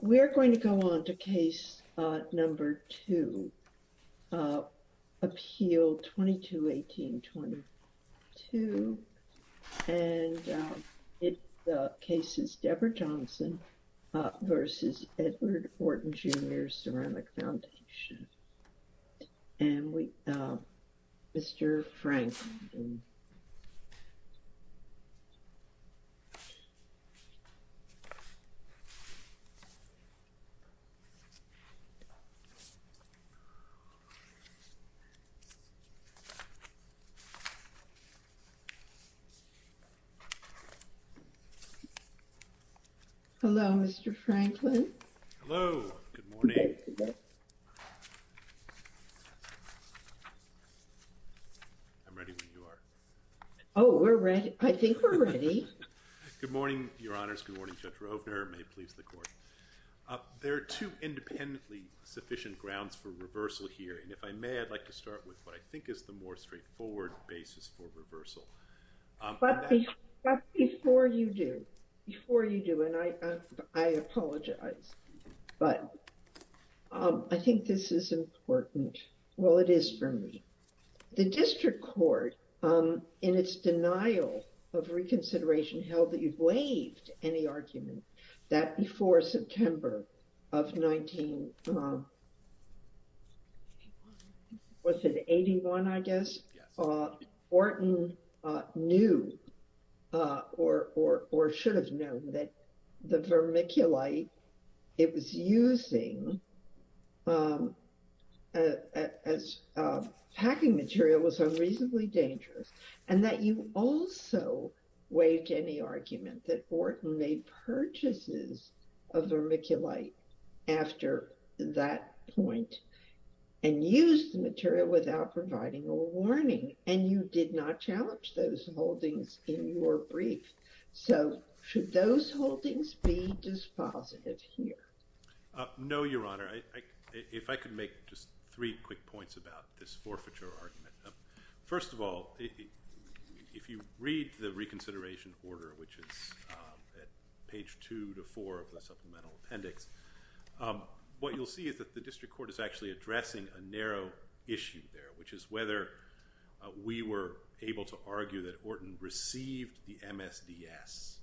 We're going to go on to case number two, Appeal 2218-22, and the case is Deborah Johnson v. Edward Orton, Jr. Ceramic Foundation. Mr. Frank. Hello, Mr. Franklin. Hello. Good morning. I'm ready when you are. Oh, we're ready. I think we're ready. Good morning, Your Honors. Good morning, Judge Roebner. May it please the Court. There are two independently sufficient grounds for reversal here, and if I may, I'd like to start with what I think is the more straightforward basis for reversal. But before you do, before you do, and I apologize, but I think this is important. Well, it is for me. The District Court, in its denial of reconsideration, held that you've waived any argument. That before September of 1981, I guess, Orton knew or should have known that the vermiculite it was using as packing material was unreasonably dangerous, and that you also waived any argument that Orton made purchases of vermiculite after that point and used the material without providing a warning, and you did not challenge those holdings in your brief. So should those holdings be dispositive here? No, Your Honor. If I could make just three quick points about this forfeiture argument. First of all, if you read the reconsideration order, which is at page two to four of the supplemental appendix, what you'll see is that the District Court is actually addressing a narrow issue there, which is whether we were able to argue that Orton received the MSDS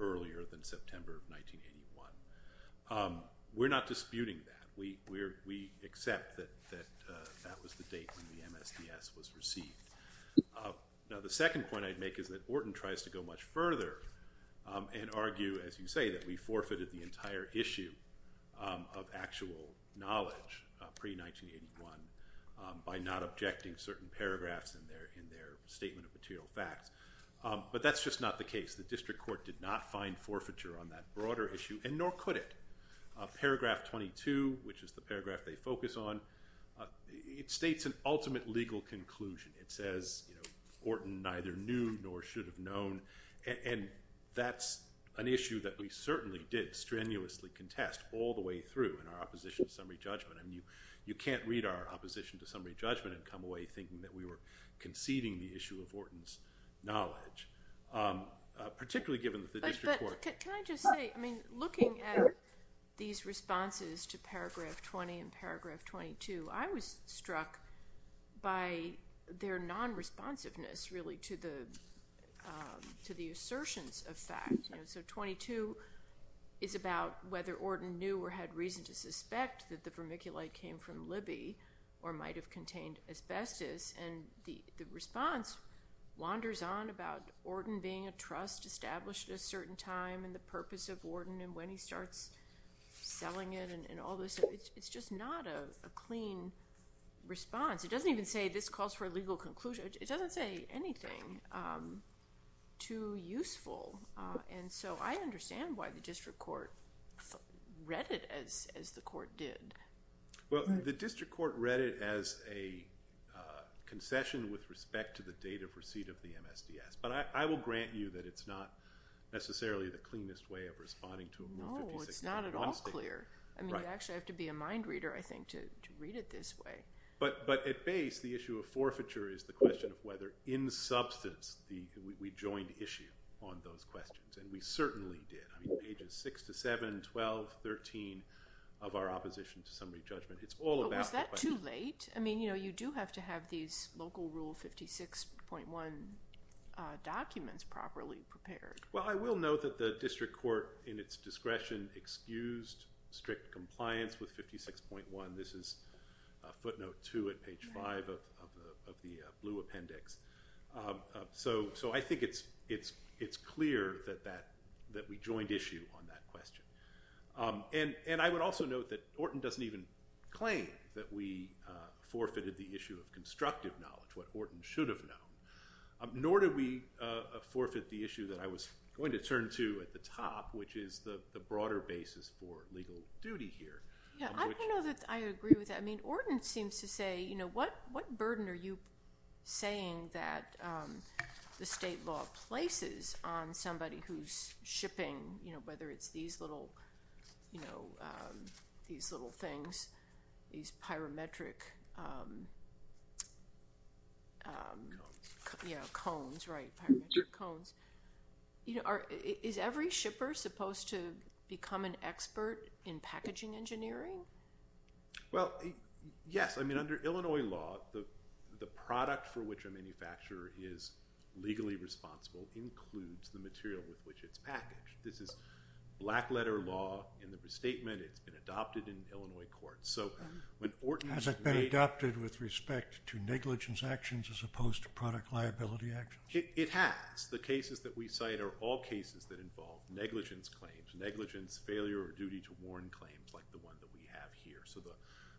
earlier than September of 1981. We're not disputing that. We accept that that was the date when the MSDS was received. Now, the second point I'd make is that Orton tries to go much further and argue, as you say, that we forfeited the entire issue of actual knowledge pre-1981 by not objecting certain paragraphs in their statement of material facts, but that's just not the case. The District Court did not find forfeiture on that broader issue, and nor could it. Paragraph 22, which is the paragraph they focus on, it states an ultimate legal conclusion. It says, you know, Orton neither knew nor should have known, and that's an issue that we certainly did strenuously contest all the way through in our opposition summary judgment. I mean, you can't read our opposition to summary judgment and come away thinking that we were conceiving the issue of Orton's knowledge, particularly given that the District Court- But can I just say, I mean, looking at these responses to paragraph 20 and paragraph 22, I was struck by their non-responsiveness, really, to the assertions of fact. So 22 is about whether Orton knew or had reason to suspect that the vermiculite came from Libby or might have contained asbestos, and the response wanders on about Orton being a trust established at a certain time and the purpose of Orton and when he starts selling it and all this. It's just not a clean response. It doesn't even say this calls for a legal conclusion. It doesn't say anything too useful, and so I understand why the District Court read it as the Court did. Well, the District Court read it as a concession with respect to the date of receipt of the MSDS, but I will grant you that it's not necessarily the cleanest way of responding to a- No, it's not at all clear. I mean, you actually have to be a mind reader, I think, to read it this way. But at base, the issue of forfeiture is the question of whether, in substance, we joined issue on those questions, and we certainly did. I mean, pages 6 to 7, 12, 13 of our Opposition to Summary Judgment, it's all about- Was that too late? I mean, you do have to have these local Rule 56.1 documents properly prepared. Well, I will note that the District Court, in its discretion, excused strict compliance with 56.1. This is footnote 2 at page 5 of the blue appendix. So I think it's clear that we joined issue on that question. And I would also note that Orton doesn't even claim that we forfeited the issue of constructive knowledge, what Orton should have known, nor did we forfeit the issue that I was going to turn to at the top, which is the broader basis for legal duty here. Yeah, I don't know that I agree with that. I mean, Orton seems to say, you know, what burden are you saying that the state law places on somebody who's shipping, you know, whether it's these little, you know, these little things, these become an expert in packaging engineering? Well, yes. I mean, under Illinois law, the product for which a manufacturer is legally responsible includes the material with which it's packaged. This is black letter law in the statement. It's been adopted in Illinois court. So when Orton- Has it been adopted with respect to negligence actions as opposed to product liability actions? It has. The cases that we cite are all cases that involve negligence claims, negligence failure or duty to warn claims like the one that we have here. So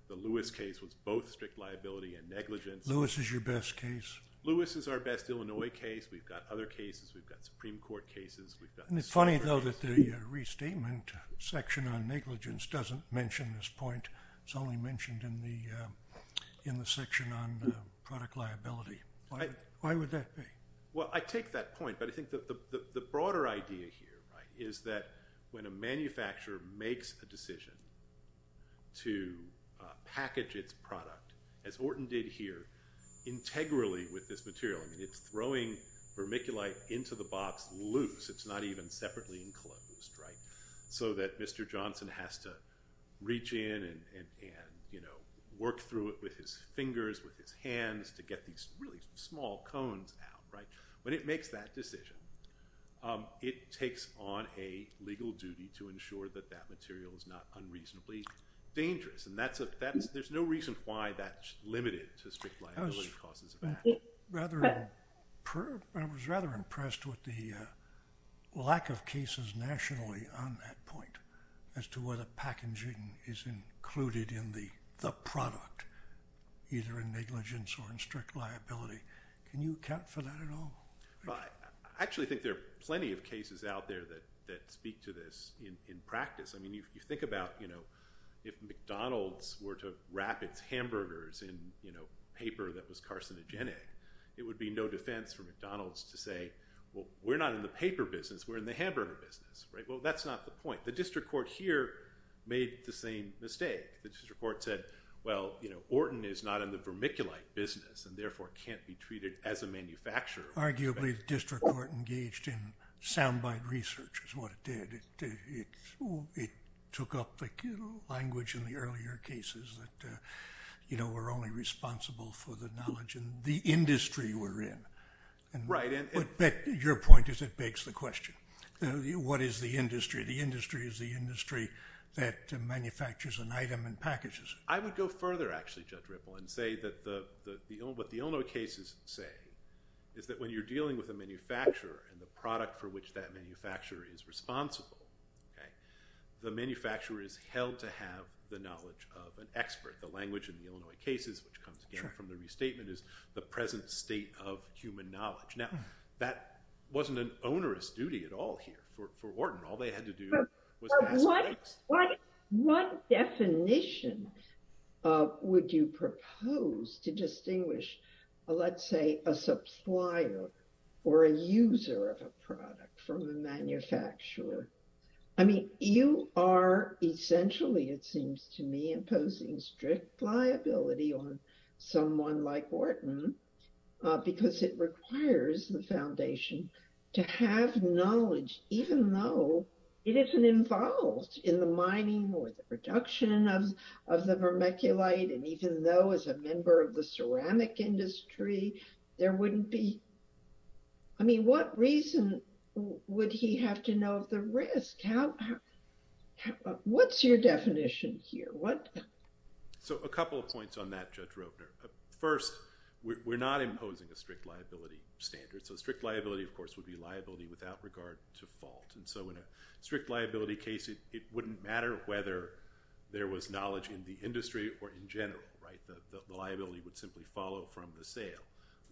the Lewis case was both strict liability and negligence. Lewis is your best case? Lewis is our best Illinois case. We've got other cases. We've got Supreme Court cases. And it's funny though that the restatement section on negligence doesn't mention this point. It's only mentioned in the section on product liability. Why would that be? Well, I take that point, but I think that the broader idea here is that when a manufacturer makes a decision to package its product, as Orton did here, integrally with this material, I mean, it's throwing vermiculite into the box loose. It's not even separately enclosed, right? So that Mr. Johnson has to reach in and, you know, work through it with his fingers, with his hands to get these really small cones out, right? When it makes that decision, it takes on a legal duty to ensure that that material is not unreasonably dangerous. And there's no reason why that's limited to strict liability causes. I was rather impressed with the lack of cases nationally on that point as to whether packaging is included in the product, either in negligence or in strict liability. Can you account for that at all? I actually think there are plenty of cases out there that speak to this in practice. I mean, if you think about, you know, if McDonald's were to wrap its hamburgers in, you know, paper that was carcinogenic, it would be no defense for Well, that's not the point. The district court here made the same mistake. The district court said, well, you know, Orton is not in the vermiculite business and therefore can't be treated as a manufacturer. Arguably, the district court engaged in soundbite research is what it did. It took up the language in the earlier cases that, you know, we're only responsible for the knowledge in the industry. The industry is the industry that manufactures an item and packages it. I would go further, actually, Judge Ripple, and say that what the Illinois cases say is that when you're dealing with a manufacturer and the product for which that manufacturer is responsible, okay, the manufacturer is held to have the knowledge of an expert. The language in the Illinois cases, which comes again from the restatement, is the present state of human But what definition would you propose to distinguish, let's say, a supplier or a user of a product from the manufacturer? I mean, you are essentially, it seems to me, imposing strict liability on someone like Orton because it requires the foundation to have knowledge, even though it isn't involved in the mining or the production of the vermiculite. And even though, as a member of the ceramic industry, there wouldn't be, I mean, what reason would he have to know of the risk? What's your definition here? What? So a couple of points on that, Judge Roepner. First, we're not imposing a strict liability standard. So strict liability, of course, is the default. And so in a strict liability case, it wouldn't matter whether there was knowledge in the industry or in general, right? The liability would simply follow from the sale.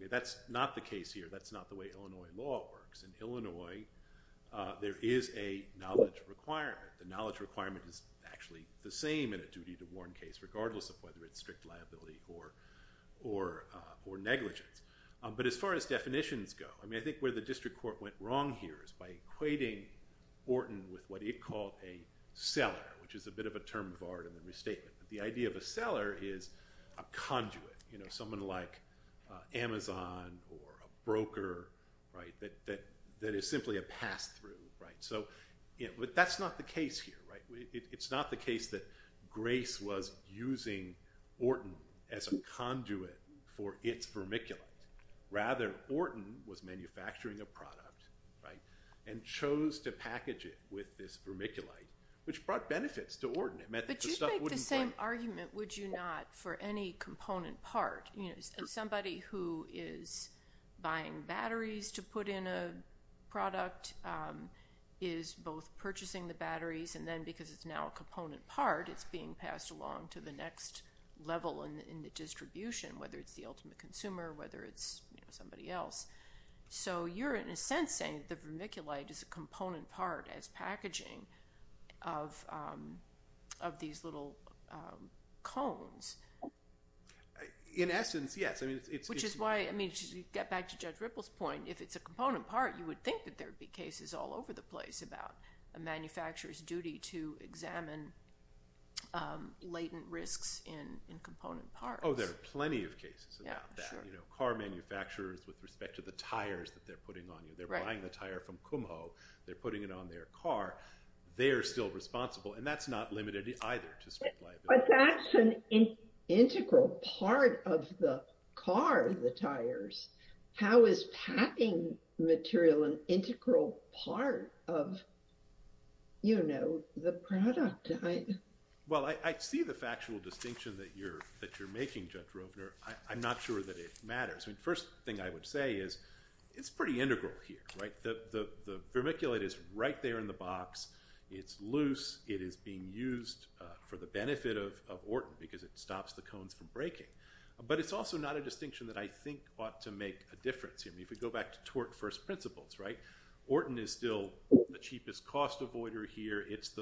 That's not the case here. That's not the way Illinois law works. In Illinois, there is a knowledge requirement. The knowledge requirement is actually the same in a duty to warn case, regardless of whether it's strict liability or negligence. But as far as definitions go, I mean, where the district court went wrong here is by equating Orton with what it called a seller, which is a bit of a term of art in the restatement. The idea of a seller is a conduit, you know, someone like Amazon or a broker, right, that is simply a pass-through, right? But that's not the case here, right? It's not the case that Grace was using Orton as a conduit for its vermiculite. Rather, Orton was manufacturing a product, right, and chose to package it with this vermiculite, which brought benefits to Orton. But you'd make the same argument, would you not, for any component part, you know, somebody who is buying batteries to put in a product is both purchasing the batteries, and then because it's now a component part, it's being passed along to the somebody else. So you're, in a sense, saying the vermiculite is a component part as packaging of these little cones. In essence, yes. I mean, it's... Which is why, I mean, to get back to Judge Ripple's point, if it's a component part, you would think that there'd be cases all over the place about a manufacturer's duty to examine latent risks in component parts. There are plenty of cases about that, you know, car manufacturers with respect to the tires that they're putting on you. They're buying the tire from Kumho, they're putting it on their car, they're still responsible, and that's not limited either. But that's an integral part of the car, the tires. How is packing material an integral part of, you know, the product? Well, I see the factual distinction that you're making, Judge Rovner. I'm not sure that it matters. I mean, first thing I would say is, it's pretty integral here, right? The vermiculite is right there in the box, it's loose, it is being used for the benefit of Orton because it stops the cones from breaking. But it's also not a distinction that I think ought to make a difference here. I mean, if we go back to tort first principles, right? Orton is still the cheapest cost avoider here, it's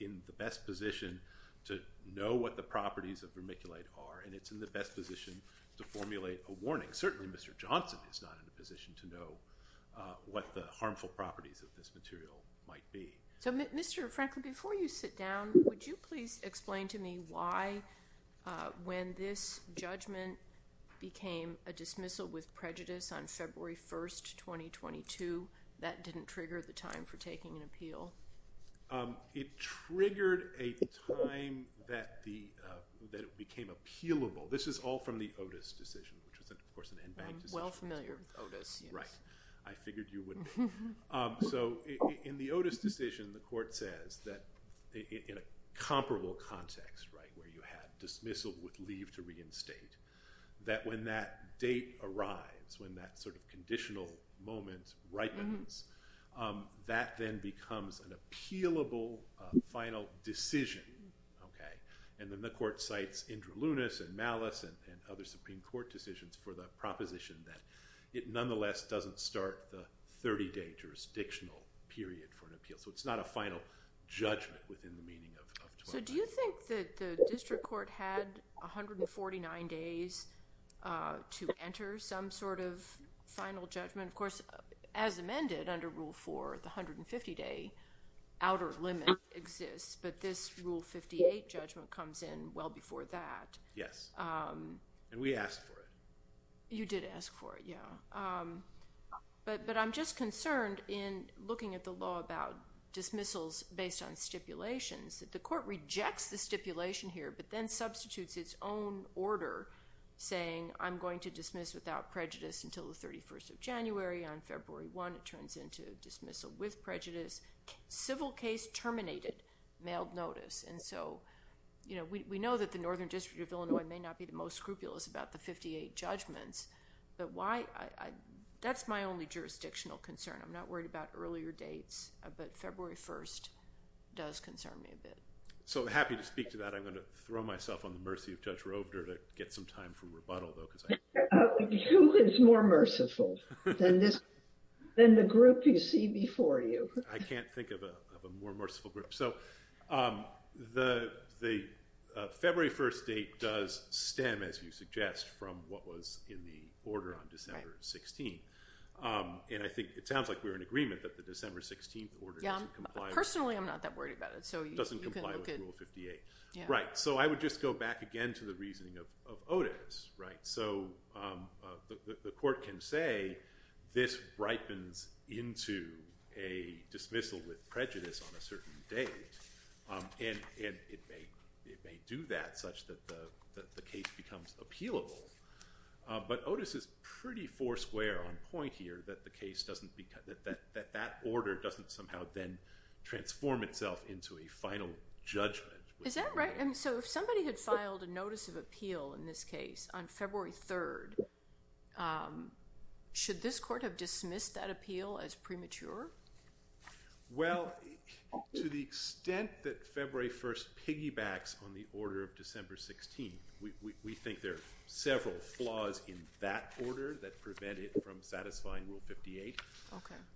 in the best position to know what the properties of vermiculite are, and it's in the best position to formulate a warning. Certainly Mr. Johnson is not in the position to know what the harmful properties of this material might be. So Mr. Franklin, before you sit down, would you please explain to me why, when this judgment became a dismissal with prejudice on February 1st, 2022, that didn't trigger the time for taking an appeal? It triggered a time that it became appealable. This is all from the Otis decision, which was of course an end-back decision. I'm well familiar with Otis. Right. I figured you would be. So in the Otis decision, the court says that in a comparable context, right, where you had dismissal with leave to reinstate, that when that date arrives, when that sort of conditional moment ripens, that then becomes an appealable final decision. And then the court cites Indra Lunis and Malice and other Supreme Court decisions for the proposition that it nonetheless doesn't start the 30-day jurisdictional period for an appeal. So it's not a final judgment within the meaning of 2020. Do you think that the district court had 149 days to enter some sort of final judgment? Of course, as amended under Rule 4, the 150-day outer limit exists, but this Rule 58 judgment comes in well before that. Yes. And we asked for it. You did ask for it, yeah. But I'm just concerned in looking at the law about dismissals based on the stipulation here, but then substitutes its own order saying, I'm going to dismiss without prejudice until the 31st of January. On February 1, it turns into dismissal with prejudice. Civil case terminated, mailed notice. And so we know that the Northern District of Illinois may not be the most scrupulous about the 58 judgments, but that's my only jurisdictional concern. I'm not worried about earlier dates, but February 1 does concern me a bit. So happy to speak to that. I'm going to throw myself on the mercy of Judge Robner to get some time for rebuttal, though, because I— Who is more merciful than the group you see before you? I can't think of a more merciful group. So the February 1 date does stem, as you suggest, from what was in the order on December 16. And I think it sounds like we're in agreement that the December 16 order doesn't comply— Personally, I'm not that worried about it. Doesn't comply with Rule 58. Right. So I would just go back again to the reasoning of Otis, right? So the court can say this ripens into a dismissal with prejudice on a certain date, and it may do that such that the case becomes appealable. But Otis is pretty foursquare on that. That order doesn't somehow then transform itself into a final judgment. Is that right? So if somebody had filed a notice of appeal in this case on February 3, should this court have dismissed that appeal as premature? Well, to the extent that February 1 piggybacks on the order of December 16, we think there are satisfying Rule 58.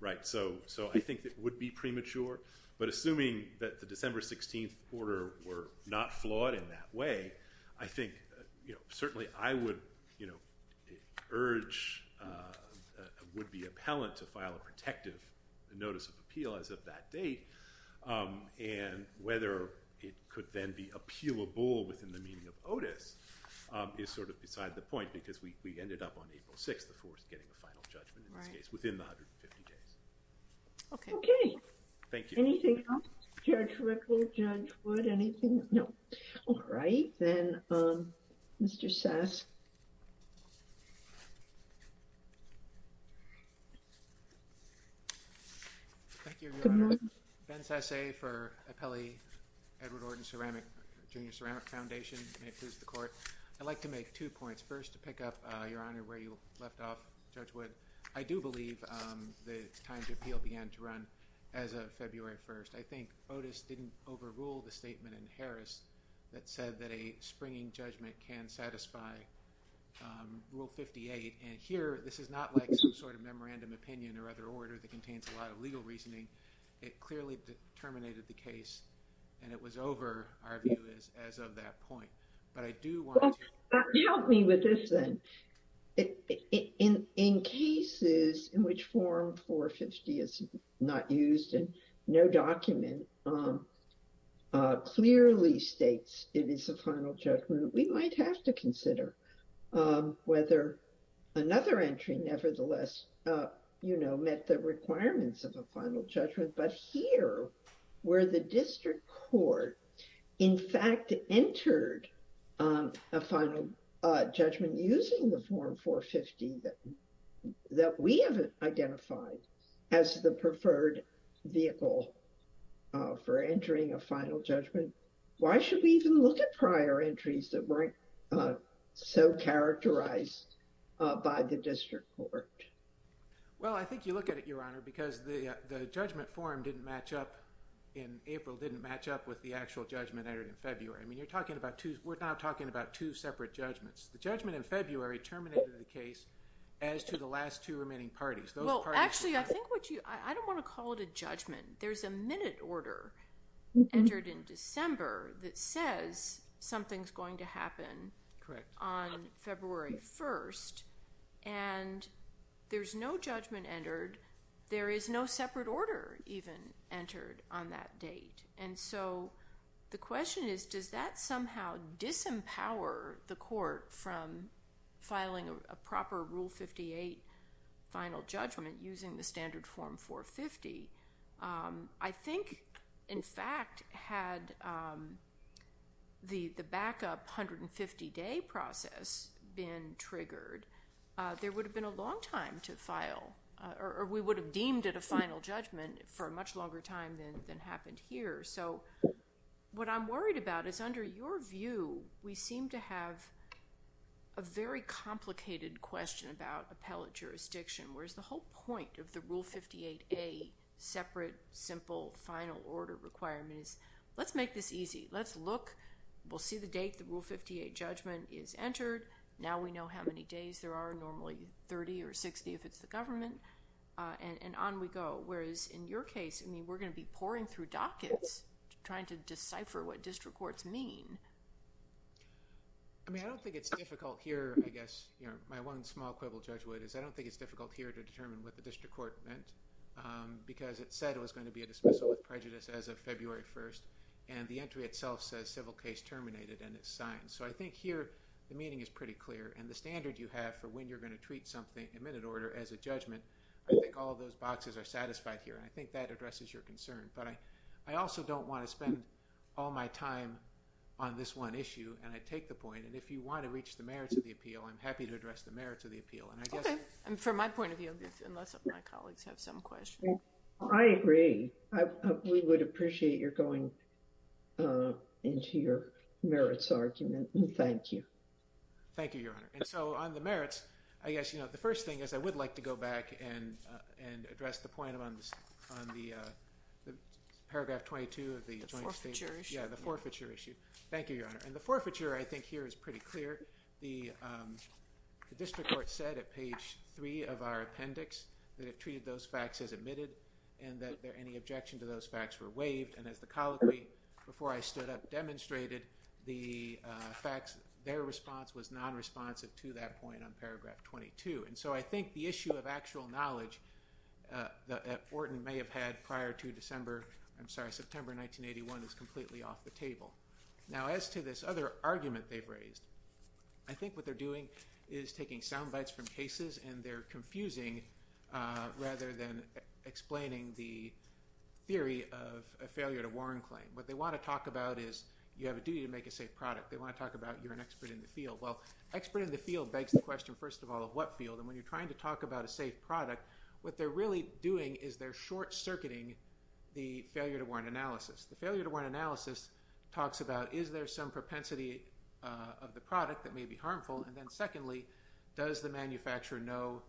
Right. So I think it would be premature. But assuming that the December 16 order were not flawed in that way, I think certainly I would urge, would be appellant to file a protective notice of appeal as of that date. And whether it could then be appealable within the meaning of Otis is sort of beside the point because we ended up on April 6, getting the final judgment in this case, within the 150 days. Okay. Okay. Thank you. Anything else? Judge Rickle, Judge Wood, anything? No. All right. Then Mr. Sask. Thank you, Your Honor. Ben Sasay for Appellee Edward Orton Junior Ceramic Foundation. May it please the court. I'd like to make two points. First, to pick up, Your Honor, where you left off, Judge Wood, I do believe the time to appeal began to run as of February 1st. I think Otis didn't overrule the statement in Harris that said that a springing judgment can satisfy Rule 58. And here, this is not like some sort of memorandum opinion or other order that contains a lot of legal reasoning. It clearly terminated the case and it was over, our view is, as of that in cases in which Form 450 is not used and no document clearly states it is a final judgment, we might have to consider whether another entry nevertheless, you know, met the requirements of a final judgment. But here, where the district court, in fact, entered a final judgment using Form 450 that we haven't identified as the preferred vehicle for entering a final judgment, why should we even look at prior entries that weren't so characterized by the district court? Well, I think you look at it, Your Honor, because the judgment form didn't match up in April, didn't match up with the actual judgment entered in February. I mean, we're not talking about two separate judgments. The judgment in February terminated the case as to the last two remaining parties. Well, actually, I think what you, I don't want to call it a judgment. There's a minute order entered in December that says something's going to happen on February 1st, and there's no judgment entered. There is no separate order even on that date. And so the question is, does that somehow disempower the court from filing a proper Rule 58 final judgment using the standard Form 450? I think, in fact, had the backup 150-day process been triggered, there would have been a long time to file, or we would have deemed it a final judgment for a much longer time than happened here. So what I'm worried about is, under your view, we seem to have a very complicated question about appellate jurisdiction, whereas the whole point of the Rule 58A separate, simple, final order requirement is, let's make this easy. Let's look. We'll see the date the Rule 58 judgment is and on we go, whereas in your case, I mean, we're going to be pouring through dockets trying to decipher what district courts mean. I mean, I don't think it's difficult here, I guess, you know, my one small quibble, Judge Wood, is I don't think it's difficult here to determine what the district court meant, because it said it was going to be a dismissal of prejudice as of February 1st, and the entry itself says civil case terminated, and it's signed. So I think here the meaning is pretty clear, and the standard you have for when you're going to treat something, as a judgment, I think all those boxes are satisfied here, and I think that addresses your concern. But I also don't want to spend all my time on this one issue, and I take the point, and if you want to reach the merits of the appeal, I'm happy to address the merits of the appeal. Okay, and from my point of view, unless my colleagues have some questions. I agree. We would appreciate your going into your merits argument, and thank you. Thank you, Your Honor, and so on the merits, I guess, you know, the first thing is I would like to go back and address the point on the paragraph 22 of the Joint Statement. Yeah, the forfeiture issue. Thank you, Your Honor, and the forfeiture, I think, here is pretty clear. The district court said at page three of our appendix that it treated those facts as admitted, and that any objection to those facts were waived, and as the colloquy before I stood up the facts, their response was non-responsive to that point on paragraph 22, and so I think the issue of actual knowledge that Wharton may have had prior to December, I'm sorry, September 1981 is completely off the table. Now, as to this other argument they've raised, I think what they're doing is taking sound bites from cases, and they're confusing rather than explaining the talk about is you have a duty to make a safe product. They want to talk about you're an expert in the field. Well, expert in the field begs the question, first of all, of what field, and when you're trying to talk about a safe product, what they're really doing is they're short-circuiting the failure-to-warrant analysis. The failure-to-warrant analysis talks about is there some propensity of the product that may be harmful, and then secondly, does the manufacturer know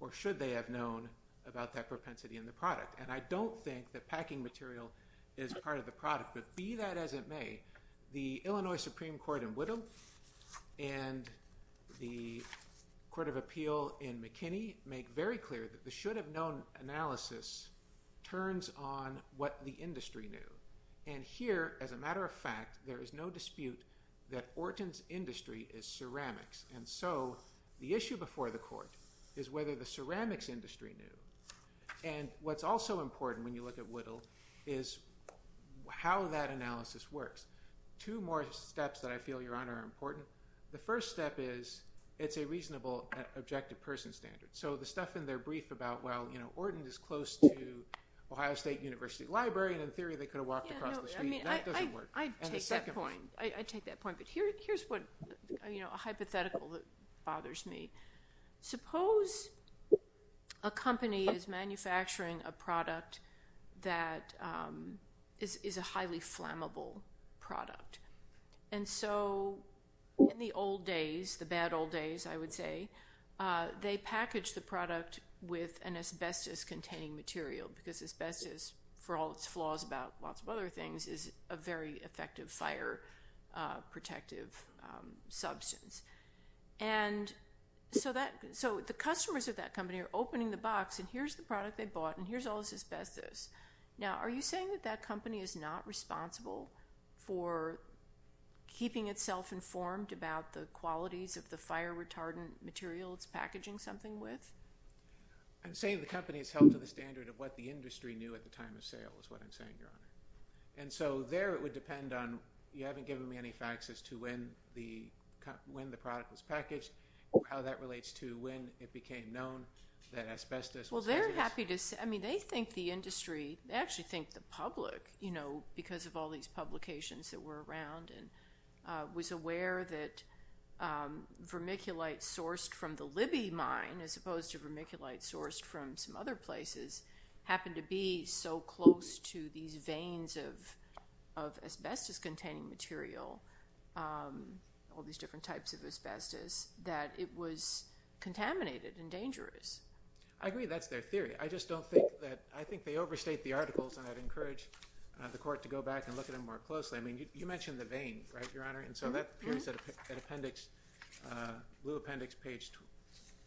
or should they have known about that propensity in the product, and I don't think packing material is part of the product, but be that as it may, the Illinois Supreme Court in Whittle and the Court of Appeal in McKinney make very clear that the should-have-known analysis turns on what the industry knew, and here, as a matter of fact, there is no dispute that Wharton's industry is ceramics, and so the issue before the court is whether the ceramics industry knew, and what's also important when you look at Whittle is how that analysis works. Two more steps that I feel, Your Honor, are important. The first step is it's a reasonable objective person standard, so the stuff in their brief about, well, you know, Wharton is close to Ohio State University Library, and in theory, they could have walked across the street. That doesn't work. I take that point, but here's what, you know, a hypothetical that bothers me. Suppose a company is manufacturing a product that is a highly flammable product, and so in the old days, the bad old days, I would say, they package the product with an asbestos-containing material because asbestos, for all its flaws about lots of other things, is a very effective fire-protective substance, and so the customers of that company are opening the box, and here's the product they bought, and here's all this asbestos. Now, are you saying that that company is not responsible for keeping itself informed about the qualities of the fire-retardant material it's packaging something with? I'm saying the company has held to the standard of what the industry knew at the time of sale is what I'm saying, Your Honor, and so there it would depend on, you haven't given me any facts as to when the product was packaged, how that relates to when it became known that asbestos was hazardous. Well, they're happy to say, I mean, they think the industry, they actually think the public, you know, because of all these publications that were around and was aware that vermiculite sourced from the Libby mine as opposed to vermiculite sourced from some other places happened to be so close to these veins of asbestos-containing material, all these different types of asbestos, that it was contaminated and dangerous. I agree, that's their theory. I just don't think that, I think they overstate the articles, and I'd encourage the Court to go back and look at them more closely. I mean, you mentioned the vein, right, Your Honor, and so that appears at appendix, blue appendix, page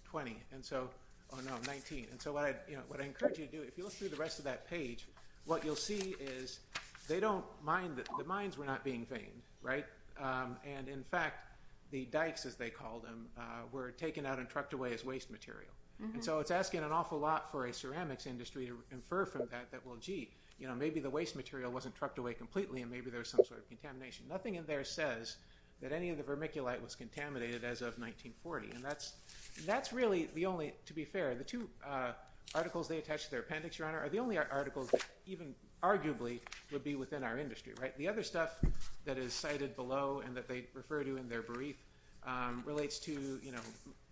20, and so, oh no, 19, and so what I'd, you know, what I encourage you to do, if you look through the rest of that page, what you'll see is they don't mind that the mines were not being veined, right, and in fact, the dikes, as they call them, were taken out and trucked away as waste material, and so it's asking an awful lot for a ceramics industry to infer from that that, well, gee, you know, maybe the waste material wasn't trucked away completely, and maybe there's some sort of contamination. Nothing in there says that any of the vermiculite was contaminated as of 1940, and that's really the only, to be fair, the two articles they attached to their appendix, Your Honor, are the only articles that even arguably would be within our industry, right? The other stuff that is cited below and that they refer to in their brief relates to, you know,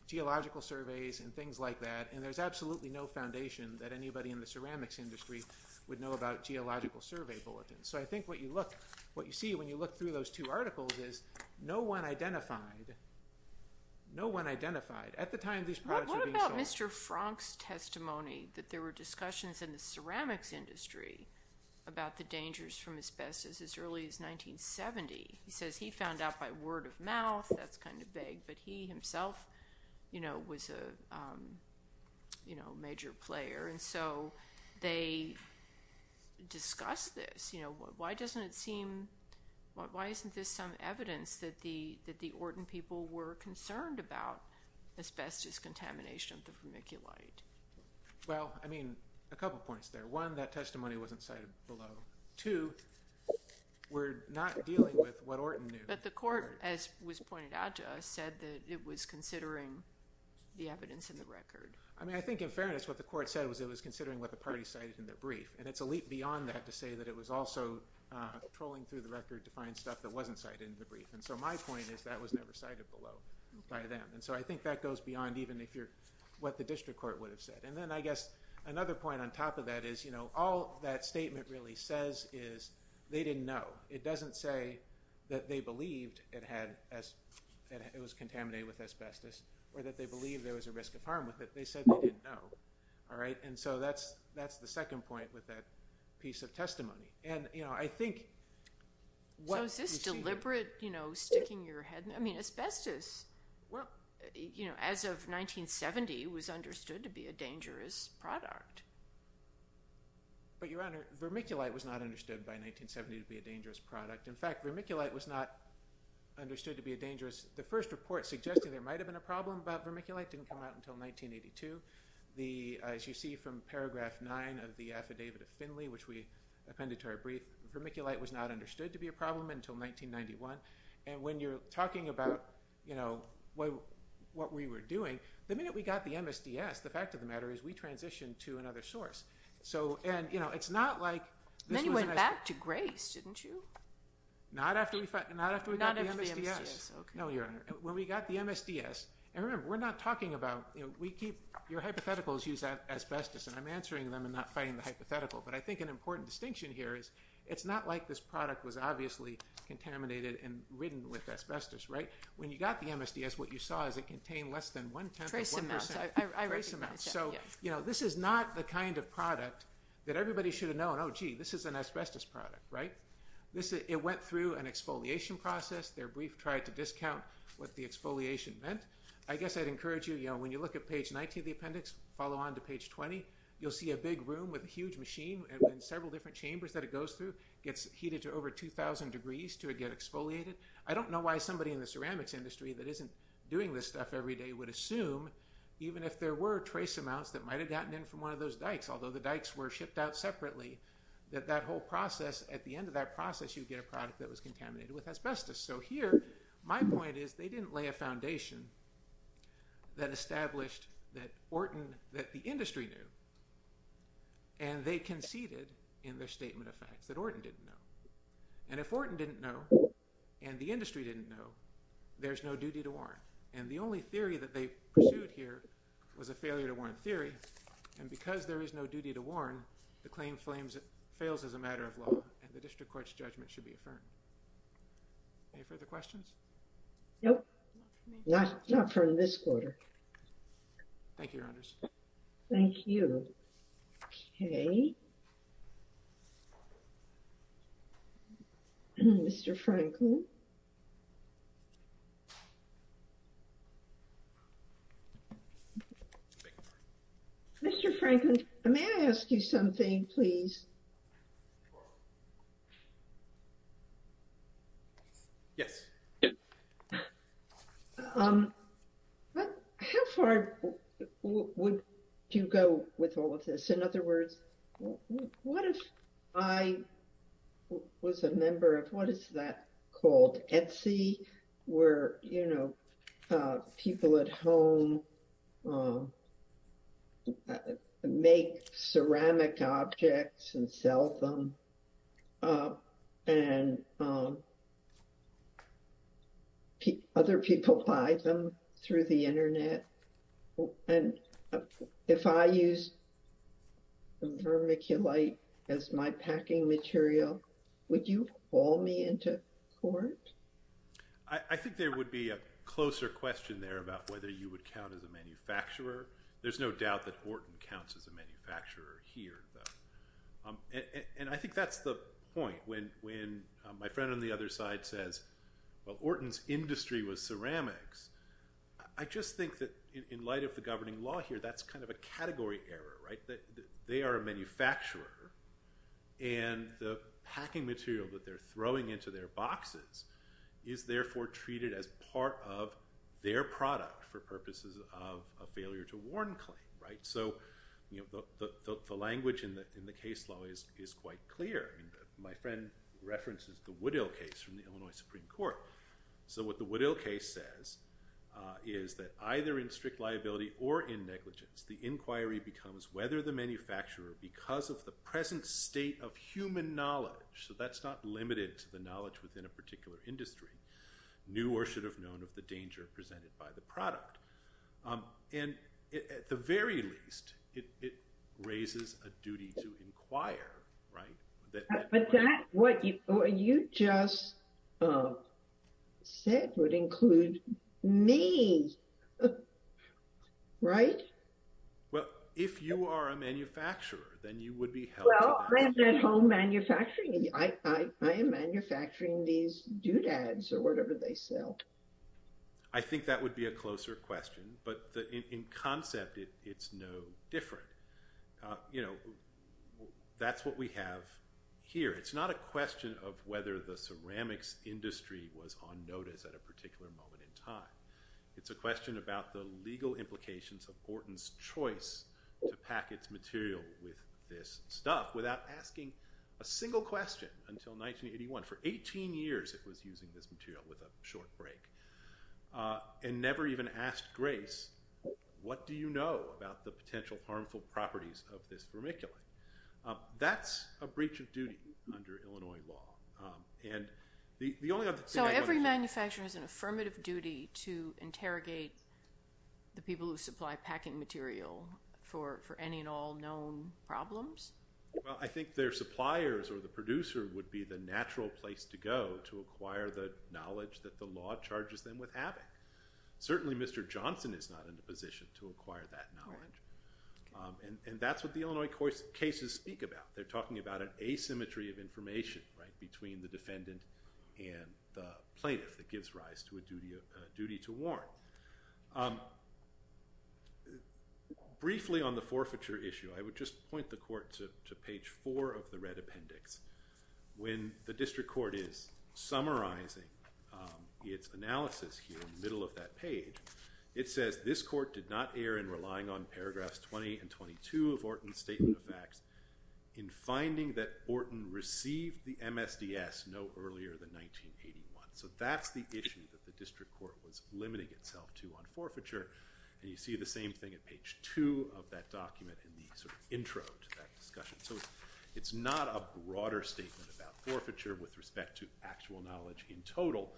geological surveys and things like that, and there's absolutely no foundation that anybody in the ceramics industry would know about geological survey bulletins, so I think what you see when you look through those two articles is no one identified, no one identified at the time these products were being sold. What about Mr. Franck's testimony that there were discussions in the ceramics industry about the dangers from asbestos as early as 1970? He says he found out by word of mouth, that's kind of vague, but he himself, you know, was a, you know, major player, and so they discussed this, you know, why doesn't it seem, why isn't this some evidence that the Orton people were concerned about asbestos contamination of the vermiculite? Well, I mean, a couple points there. One, that testimony wasn't cited below. Two, we're not dealing with what Orton knew. But the court, as was pointed out to us, said that it was considering the evidence in the record. I mean, I think in fairness, what the court said was it was considering what the party cited in their brief, and it's a leap beyond that to say that it was also trolling through the record to find stuff that wasn't cited in the brief, and so my point is that was never cited below by them, and so I think that goes beyond even if you're, what the district court would have said, and then I guess another point on top of that is, you know, all that that it was contaminated with asbestos, or that they believed there was a risk of harm with it, they said they didn't know, all right? And so that's the second point with that piece of testimony, and, you know, I think... So is this deliberate, you know, sticking your head, I mean, asbestos, you know, as of 1970 was understood to be a dangerous product. But, Your Honor, vermiculite was not understood by 1970 to be a dangerous product. In fact, vermiculite was not understood to be a dangerous... The first report suggesting there might have been a problem about vermiculite didn't come out until 1982. The, as you see from paragraph 9 of the affidavit of Finley, which we appended to our brief, vermiculite was not understood to be a problem until 1991, and when you're talking about, you know, what we were doing, the minute we got the MSDS, the fact of the matter is we transitioned to another source. So, and, you know, it's not like... Didn't you? Not after we got the MSDS. No, Your Honor. When we got the MSDS, and remember, we're not talking about, you know, we keep... Your hypotheticals use asbestos, and I'm answering them and not fighting the hypothetical, but I think an important distinction here is it's not like this product was obviously contaminated and ridden with asbestos, right? When you got the MSDS, what you saw is it contained less than one tenth of one percent. Trace amounts, I recognize that, yeah. Trace amounts. So, you know, this is not the kind of product that everybody should have known, this is an asbestos product, right? It went through an exfoliation process. Their brief tried to discount what the exfoliation meant. I guess I'd encourage you, you know, when you look at page 19 of the appendix, follow on to page 20, you'll see a big room with a huge machine and several different chambers that it goes through. It gets heated to over 2,000 degrees to get exfoliated. I don't know why somebody in the ceramics industry that isn't doing this stuff every day would assume, even if there were trace amounts that might have gotten in from one of those dykes, although the dykes were shipped out separately, that that whole process, at the end of that process, you'd get a product that was contaminated with asbestos. So here, my point is they didn't lay a foundation that established that Orton, that the industry knew, and they conceded in their statement of facts that Orton didn't know. And if Orton didn't know, and the industry didn't know, there's no duty to warrant. And the only theory that they pursued here was a failure to warrant theory, and because there is no duty to warrant, the claim fails as a matter of law, and the district court's judgment should be affirmed. Any further questions? Nope, not from this quarter. Thank you, your honors. Thank you. Okay. Thank you, Mr. Franklin. Mr. Franklin, may I ask you something, please? Yes. How far would you go with all of this? In other words, what if I was a member of, what is that sell them, and other people buy them through the internet? And if I use vermiculite as my packing material, would you call me into court? I think there would be a closer question there about whether you would count as a manufacturer. There's no doubt that Orton counts as a manufacturer here, though. And I think that's the point. When my friend on the other side says, well, Orton's industry was ceramics, I just think that in light of the governing law here, that's kind of a category error, right? They are a manufacturer, and the packing material that they're throwing into their boxes is therefore treated as part of their product for purposes of a failure to warn claim, right? So, you know, the language in the case law is quite clear. My friend references the Woodhill case from the Illinois Supreme Court. So what the Woodhill case says is that either in strict liability or in negligence, the inquiry becomes whether the manufacturer, because of the present state of human knowledge, so that's not limited to the knowledge within a particular industry, knew or should have known of the danger presented by the product. And at the very least, it raises a duty to inquire, right? But that what you just said would include me, right? Well, if you are a manufacturer, then you would be helping. Well, I'm at home manufacturing. I am manufacturing these doodads or whatever they sell. I think that would be a closer question, but in concept, it's no different. You know, that's what we have here. It's not a question of whether the ceramics industry was on notice at a particular moment in time. It's a question about the legal implications of Horton's choice to pack its material with this stuff without asking a single question until 1981. For 18 years, it was using this material with a short break and never even asked Grace, what do you know about the potential harmful properties of this vermiculite? That's a breach of duty under Illinois law. So every manufacturer has an obligation to ask the people who supply packing material for any and all known problems? Well, I think their suppliers or the producer would be the natural place to go to acquire the knowledge that the law charges them with having. Certainly, Mr. Johnson is not in the position to acquire that knowledge. And that's what the Illinois cases speak about. They're talking about an asymmetry of information, right, between the defendant and the plaintiff that gives rise to a duty to warn. Briefly on the forfeiture issue, I would just point the court to page four of the red appendix. When the district court is summarizing its analysis here in the middle of that page, it says this court did not err in relying on paragraphs 20 and 22 of Horton's statement of facts in finding that Horton received the MSDS no earlier than 1981. So that's the issue that the district court was limiting itself to on forfeiture. And you see the same thing at page two of that document in the sort of intro to that discussion. So it's not a broader statement about forfeiture with respect to actual knowledge in total,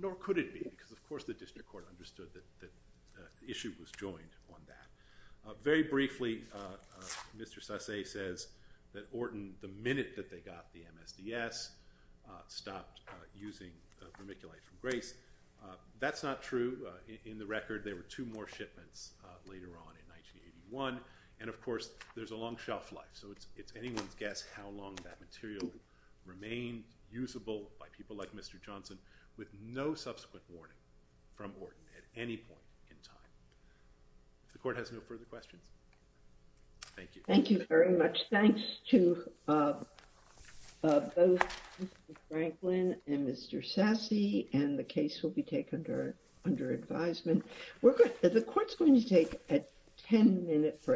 nor could it be, because of course the district court understood that the issue was joined on that. Very briefly, Mr. Sasse says that Horton, the minute that they got the MSDS, stopped using vermiculite from Grace. That's not true. In the record there were two more shipments later on in 1981. And of course there's a long shelf life, so it's anyone's guess how long that material would remain usable by people like Mr. Johnson with no subsequent warning from Horton at any point in time. The court has no further questions. Thank you. Thank you very much. Thanks to both Mr. Franklin and Mr. Sasse, and the case will be taken under under advisement. We're good. The court's going to take a 10 minute break.